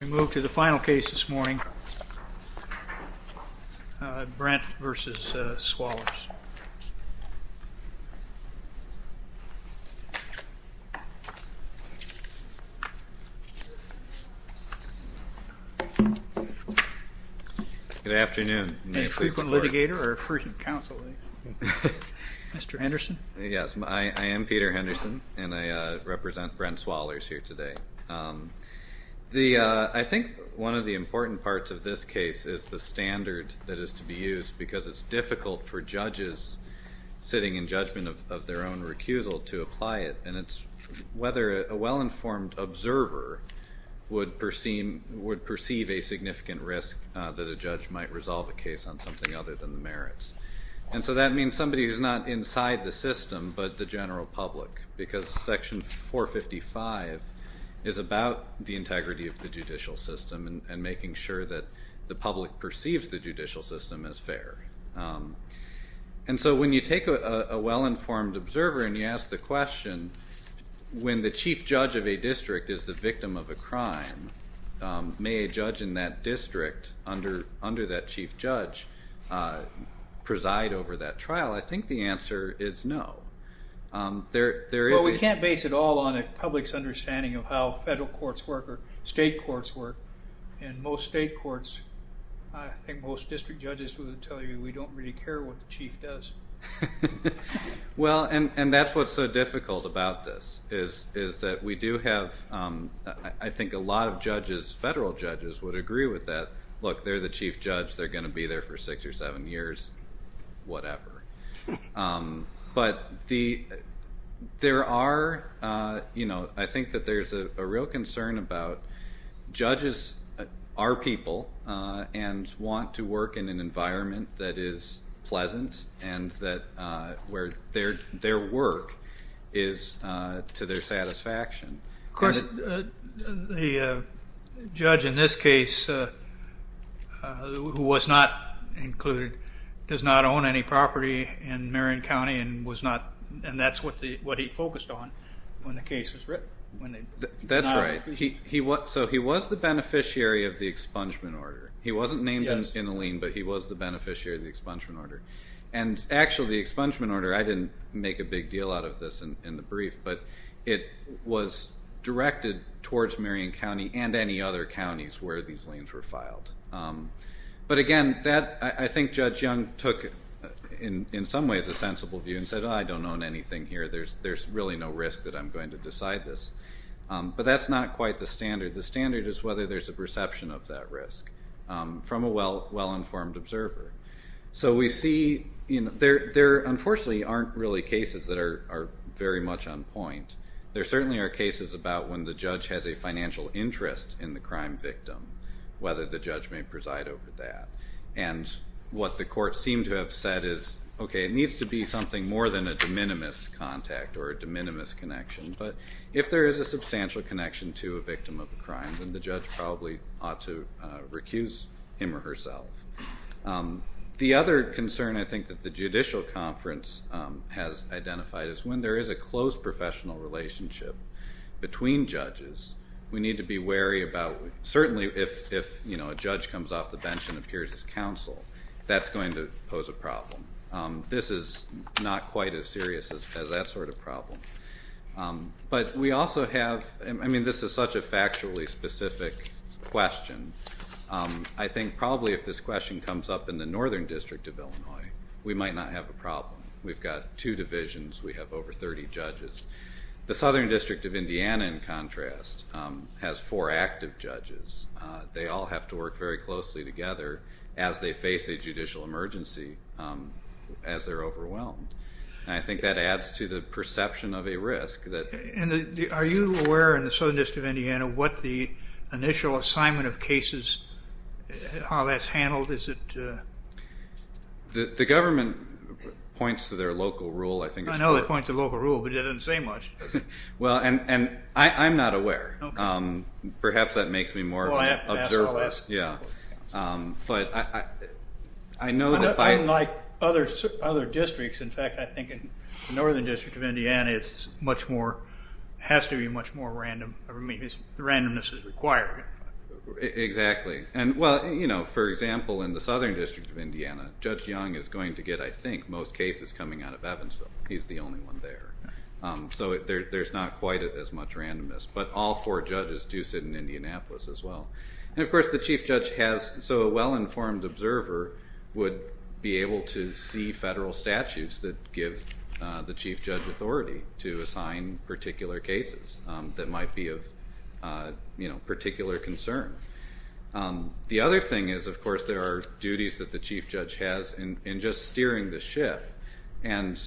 We move to the final case this morning, Brent v. Swallers. Good afternoon. A frequent litigator or a frequent counsel? Mr. Henderson? Yes, I am Peter Henderson, and I represent Brent Swallers here today. I think one of the important parts of this case is the standard that is to be used because it's difficult for judges sitting in judgment of their own recusal to apply it, and it's whether a well-informed observer would perceive a significant risk that a judge might resolve a case on something other than the merits. And so that means somebody who's not inside the system, but the general public, because Section 455 is about the integrity of the judicial system and making sure that the public perceives the judicial system as fair. And so when you take a well-informed observer and you ask the question, when the chief judge of a district is the victim of a crime, may a judge in that district under that chief judge preside over that trial? I think the answer is no. Well, we can't base it all on the public's understanding of how federal courts work or state courts work. In most state courts, I think most district judges would tell you we don't really care what the chief does. Well, and that's what's so difficult about this, is that we do have, I think a lot of judges, federal judges, would agree with that. Look, they're the chief judge. They're going to be there for six or seven years, whatever. But there are, you know, I think that there's a real concern about judges are people and want to work in an environment that is pleasant and where their work is to their satisfaction. Of course, the judge in this case, who was not included, does not own any property in Marion County and that's what he focused on when the case was written. That's right. So he was the beneficiary of the expungement order. He wasn't named in the lien, but he was the beneficiary of the expungement order. And actually, the expungement order, I didn't make a big deal out of this in the brief, but it was directed towards Marion County and any other counties where these liens were filed. But again, I think Judge Young took, in some ways, a sensible view and said, I don't own anything here. There's really no risk that I'm going to decide this. But that's not quite the standard. The standard is whether there's a perception of that risk from a well-informed observer. So we see there, unfortunately, aren't really cases that are very much on point. There certainly are cases about when the judge has a financial interest in the crime victim, whether the judge may preside over that. And what the court seemed to have said is, okay, it needs to be something more than a de minimis contact or a de minimis connection. But if there is a substantial connection to a victim of a crime, then the judge probably ought to recuse him or herself. The other concern I think that the judicial conference has identified is when there is a close professional relationship between judges, we need to be wary about certainly if a judge comes off the bench and appears as counsel, that's going to pose a problem. This is not quite as serious as that sort of problem. But we also have, I mean, this is such a factually specific question. I think probably if this question comes up in the Northern District of Illinois, we might not have a problem. We've got two divisions. We have over 30 judges. The Southern District of Indiana, in contrast, has four active judges. They all have to work very closely together as they face a judicial emergency as they're overwhelmed. And I think that adds to the perception of a risk. Are you aware in the Southern District of Indiana what the initial assignment of cases, how that's handled? The government points to their local rule, I think. I know they point to local rule, but it doesn't say much. Well, and I'm not aware. Perhaps that makes me more of an observer. Unlike other districts, in fact, I think in the Northern District of Indiana, it has to be much more random. Randomness is required. Exactly. Well, for example, in the Southern District of Indiana, Judge Young is going to get, I think, most cases coming out of Evansville. He's the only one there. So there's not quite as much randomness. But all four judges do sit in Indianapolis as well. And, of course, the chief judge has, so a well-informed observer would be able to see federal statutes that give the chief judge authority to assign particular cases that might be of particular concern. The other thing is, of course, there are duties that the chief judge has in just steering the ship. And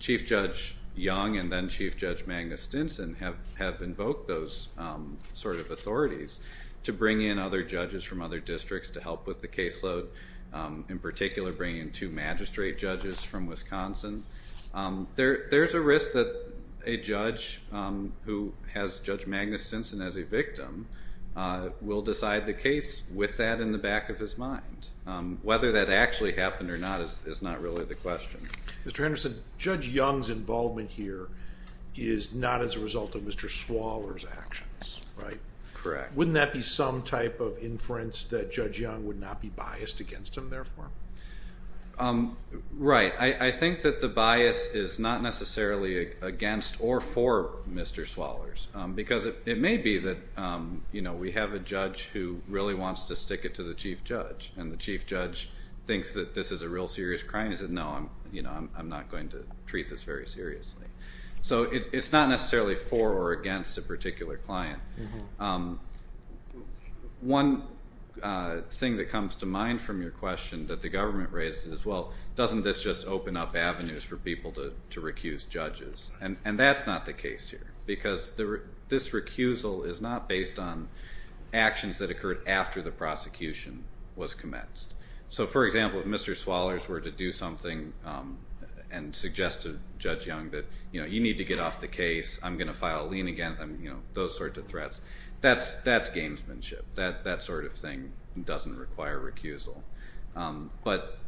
Chief Judge Young and then Chief Judge Magnus Stinson have invoked those sort of authorities to bring in other judges from other districts to help with the caseload, in particular bringing in two magistrate judges from Wisconsin. There's a risk that a judge who has Judge Magnus Stinson as a victim will decide the case with that in the back of his mind. Whether that actually happened or not is not really the question. Mr. Henderson, Judge Young's involvement here is not as a result of Mr. Swaller's actions, right? Correct. Wouldn't that be some type of inference that Judge Young would not be biased against him, therefore? Right. I think that the bias is not necessarily against or for Mr. Swaller's because it may be that we have a judge who really wants to stick it to the chief judge. And the chief judge thinks that this is a real serious crime. He says, no, I'm not going to treat this very seriously. So it's not necessarily for or against a particular client. One thing that comes to mind from your question that the government raises is, well, doesn't this just open up avenues for people to recuse judges? And that's not the case here because this recusal is not based on actions that occurred after the prosecution was commenced. So, for example, if Mr. Swaller's were to do something and suggest to Judge Young that, you know, you need to get off the case, I'm going to file a lien again, you know, those sorts of threats. That's gamesmanship. That sort of thing doesn't require recusal. But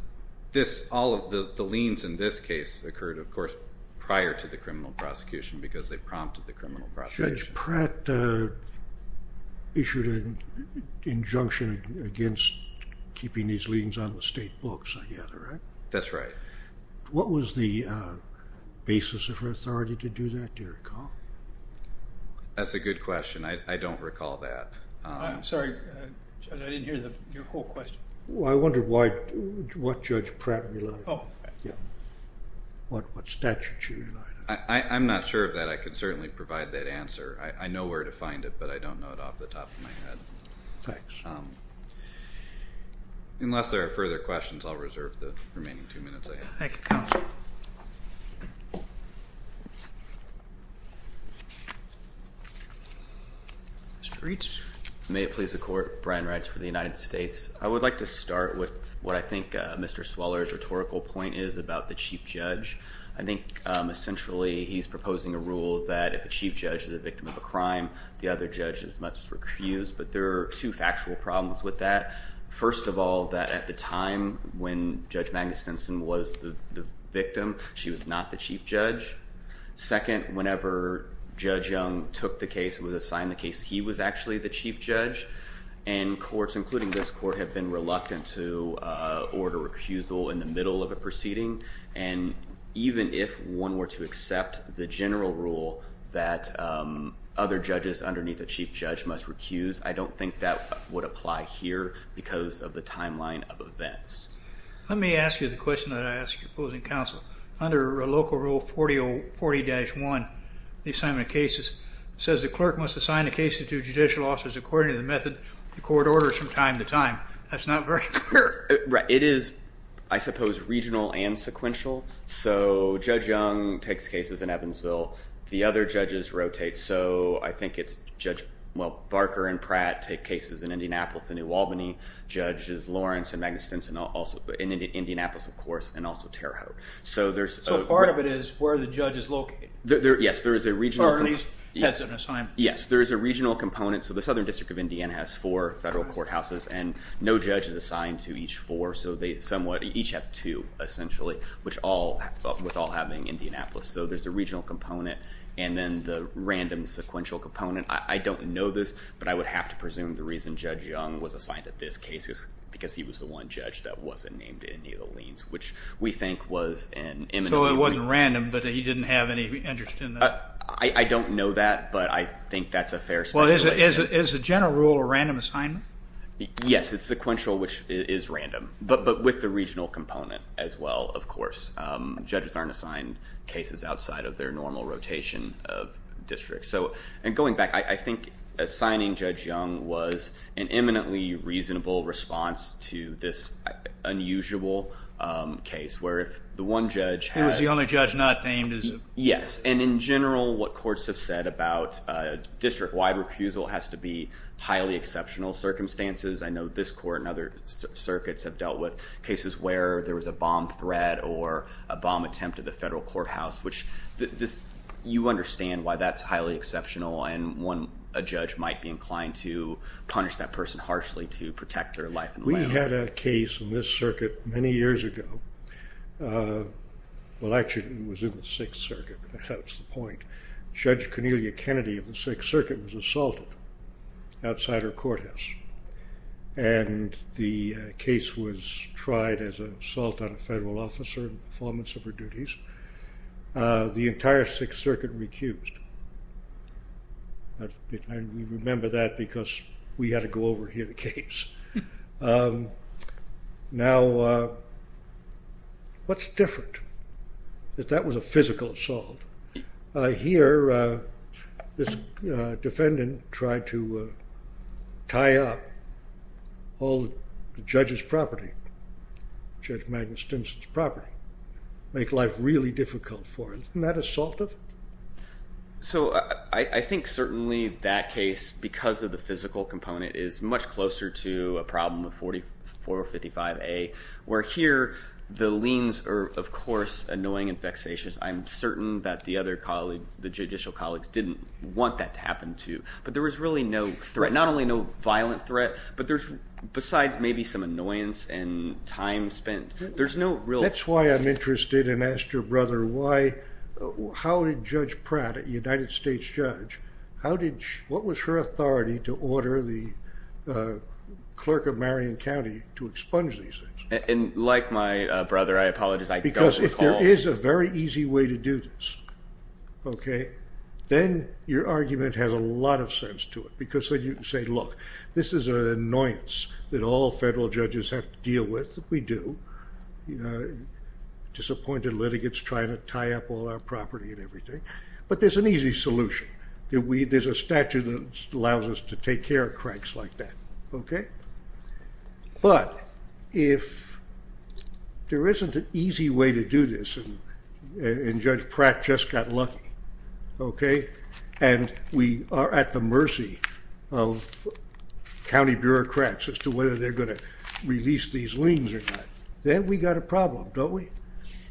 all of the liens in this case occurred, of course, prior to the criminal prosecution because they prompted the criminal prosecution. Judge Pratt issued an injunction against keeping these liens on the state books, I gather, right? That's right. What was the basis of her authority to do that, do you recall? That's a good question. I don't recall that. I'm sorry, Judge, I didn't hear your whole question. I wondered what Judge Pratt relied on. Oh. Yeah. What statute she relied on. I'm not sure of that. I can certainly provide that answer. I know where to find it, but I don't know it off the top of my head. Thanks. Unless there are further questions, I'll reserve the remaining two minutes I have. Thank you, counsel. Mr. Reitz. May it please the Court. Brian Reitz for the United States. I would like to start with what I think Mr. Sweller's rhetorical point is about the chief judge. I think essentially he's proposing a rule that if the chief judge is a victim of a crime, the other judge is much to refuse. But there are two factual problems with that. First of all, that at the time when Judge Magnus Stinson was the victim, she was not the chief judge. Second, whenever Judge Young took the case and was assigned the case, he was actually the chief judge. And courts, including this court, have been reluctant to order recusal in the middle of a proceeding. And even if one were to accept the general rule that other judges underneath the chief judge must recuse, I don't think that would apply here because of the timeline of events. Let me ask you the question that I ask your opposing counsel. Under Local Rule 40-1, the assignment of cases, it says the clerk must assign a case to two judicial officers according to the method the court orders from time to time. That's not very clear. Right. It is, I suppose, regional and sequential. So Judge Young takes cases in Evansville. The other judges rotate. So I think it's Judge Barker and Pratt take cases in Indianapolis and New Albany. Judges Lawrence and Magnus Stinson also in Indianapolis, of course, and also Terre Haute. So part of it is where the judge is located. Yes, there is a regional component. Or at least has an assignment. Yes, there is a regional component. So the Southern District of Indiana has four federal courthouses, and no judge is assigned to each four. So they each have two, essentially, with all having Indianapolis. So there's a regional component and then the random sequential component. I don't know this, but I would have to presume the reason Judge Young was assigned to this case is because he was the one judge that wasn't named in any of the liens, which we think was an imminent. So it wasn't random, but he didn't have any interest in that? I don't know that, but I think that's a fair speculation. Is the general rule a random assignment? Yes, it's sequential, which is random, but with the regional component as well, of course. And going back, I think assigning Judge Young was an imminently reasonable response to this unusual case, where if the one judge had... Who was the only judge not named as... Yes, and in general, what courts have said about district-wide recusal has to be highly exceptional circumstances. I know this court and other circuits have dealt with cases where there was a bomb threat or a bomb attempt at the federal courthouse, which you understand why that's highly exceptional and a judge might be inclined to punish that person harshly to protect their life and land. We had a case in this circuit many years ago. Well, actually, it was in the Sixth Circuit, but that's the point. Judge Cornelia Kennedy of the Sixth Circuit was assaulted outside her courthouse, and the case was tried as an assault on a federal officer in performance of her duties. The entire Sixth Circuit recused. I remember that because we had to go over and hear the case. Now, what's different? That that was a physical assault. Here, this defendant tried to tie up all the judge's property, Judge Magnus Stinson's property, make life really difficult for him. Isn't that assaultive? So I think certainly that case, because of the physical component, is much closer to a problem of 4455A, where here the liens are, of course, annoying and vexatious. I'm certain that the other colleagues, the judicial colleagues, didn't want that to happen, too. But there was really no threat, not only no violent threat, but besides maybe some annoyance and time spent, there's no real— That's why I'm interested and asked your brother, how did Judge Pratt, a United States judge, what was her authority to order the clerk of Marion County to expunge these things? Like my brother, I apologize. Because if there is a very easy way to do this, then your argument has a lot of sense to it. Because you say, look, this is an annoyance that all federal judges have to deal with. We do. Disappointed litigants trying to tie up all our property and everything. But there's an easy solution. There's a statute that allows us to take care of cranks like that. But if there isn't an easy way to do this, and Judge Pratt just got lucky, and we are at the mercy of county bureaucrats as to whether they're going to release these liens or not, then we've got a problem, don't we?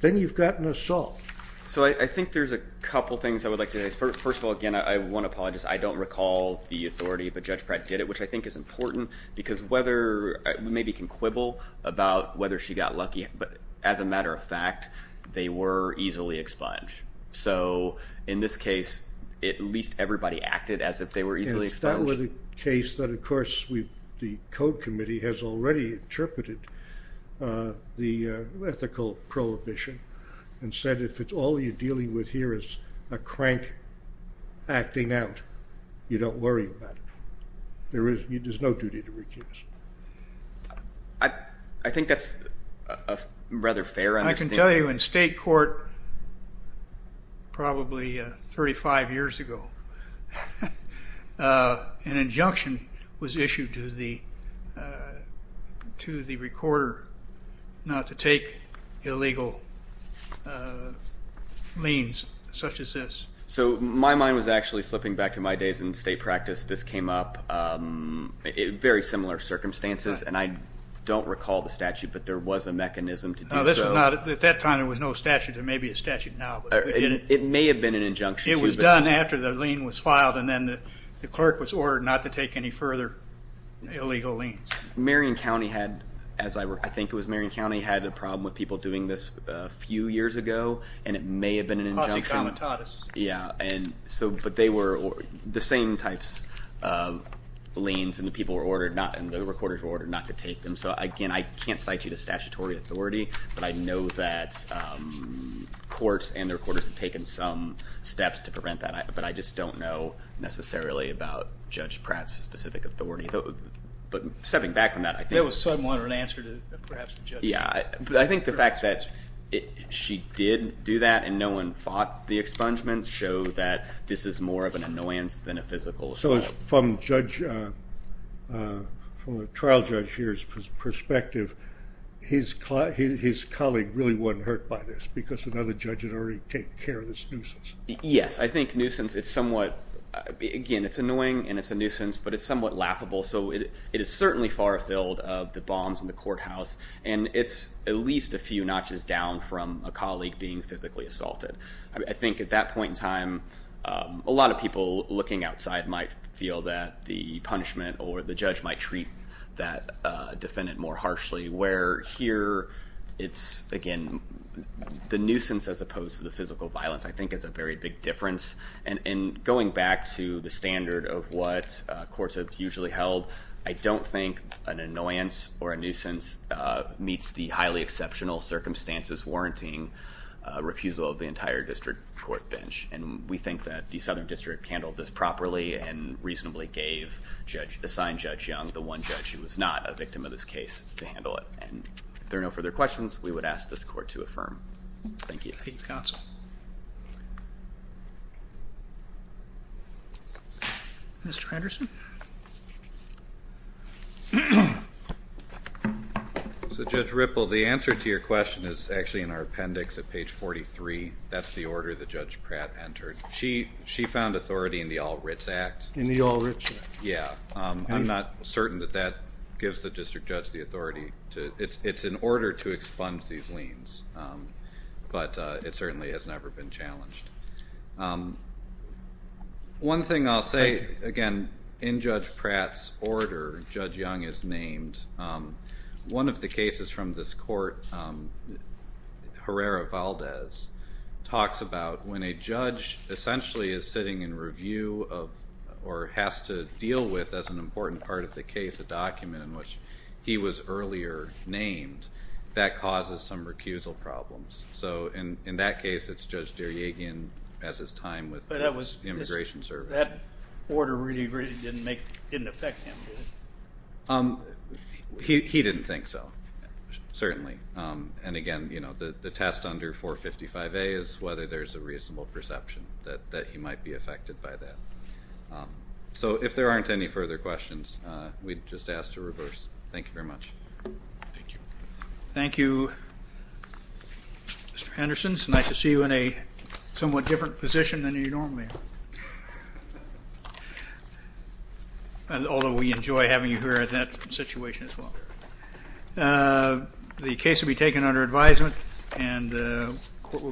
Then you've got an assault. So I think there's a couple things I would like to say. First of all, again, I want to apologize. I don't recall the authority, but Judge Pratt did it, which I think is important, because we maybe can quibble about whether she got lucky. But as a matter of fact, they were easily expunged. So in this case, at least everybody acted as if they were easily expunged. It's not really the case that, of course, the Code Committee has already interpreted the ethical prohibition and said if it's all you're dealing with here is a crank acting out, you don't worry about it. There's no duty to recuse. I think that's a rather fair understanding. I can tell you in state court probably 35 years ago, an injunction was issued to the recorder not to take illegal liens such as this. So my mind was actually slipping back to my days in state practice. This came up in very similar circumstances, and I don't recall the statute, but there was a mechanism to do so. At that time there was no statute. There may be a statute now. It may have been an injunction. It was done after the lien was filed, and then the clerk was ordered not to take any further illegal liens. Marion County had, as I think it was Marion County, had a problem with people doing this a few years ago, and it may have been an injunction. Causa comitatus. Yeah, but they were the same types of liens, and the people were ordered, and the recorders were ordered not to take them. So again, I can't cite you to statutory authority, but I know that courts and the recorders have taken some steps to prevent that, but I just don't know necessarily about Judge Pratt's specific authority. But stepping back from that, I think the fact that she did do that and no one fought the expungement showed that this is more of an annoyance than a physical assault. From the trial judge here's perspective, his colleague really wasn't hurt by this because another judge had already taken care of this nuisance. Yes. I think nuisance, it's somewhat, again, it's annoying and it's a nuisance, but it's somewhat laughable. So it is certainly far afield of the bombs in the courthouse, and it's at least a few notches down from a colleague being physically assaulted. I think at that point in time a lot of people looking outside might feel that the punishment or the judge might treat that defendant more harshly, where here it's, again, the nuisance as opposed to the physical violence I think is a very big difference. And going back to the standard of what courts have usually held, I don't think an annoyance or a nuisance meets the highly exceptional circumstances warranting a refusal of the entire district court bench, and we think that the Southern District handled this properly and reasonably gave Assigned Judge Young, the one judge who was not a victim of this case, to handle it. And if there are no further questions, we would ask this court to affirm. Thank you. Thank you, counsel. Mr. Anderson? So, Judge Ripple, the answer to your question is actually in our appendix at page 43. That's the order that Judge Pratt entered. She found authority in the All Writs Act. In the All Writs Act. Yeah. I'm not certain that that gives the district judge the authority. It's in order to expunge these liens, but it certainly has never been challenged. One thing I'll say, again, in Judge Pratt's order, Judge Young is named. One of the cases from this court, Herrera-Valdez, talks about when a judge essentially is sitting in review of or has to deal with as an important part of the case a document in which he was earlier named, that causes some recusal problems. So in that case, it's Judge Derjagian as his time with the Immigration Service. But that order really, really didn't affect him, did it? He didn't think so, certainly. And, again, the test under 455A is whether there's a reasonable perception that he might be affected by that. So if there aren't any further questions, we'd just ask to reverse. Thank you very much. Thank you. Thank you, Mr. Henderson. It's nice to see you in a somewhat different position than you normally are, although we enjoy having you here in that situation as well. The case will be taken under advisement, and the court will be in session.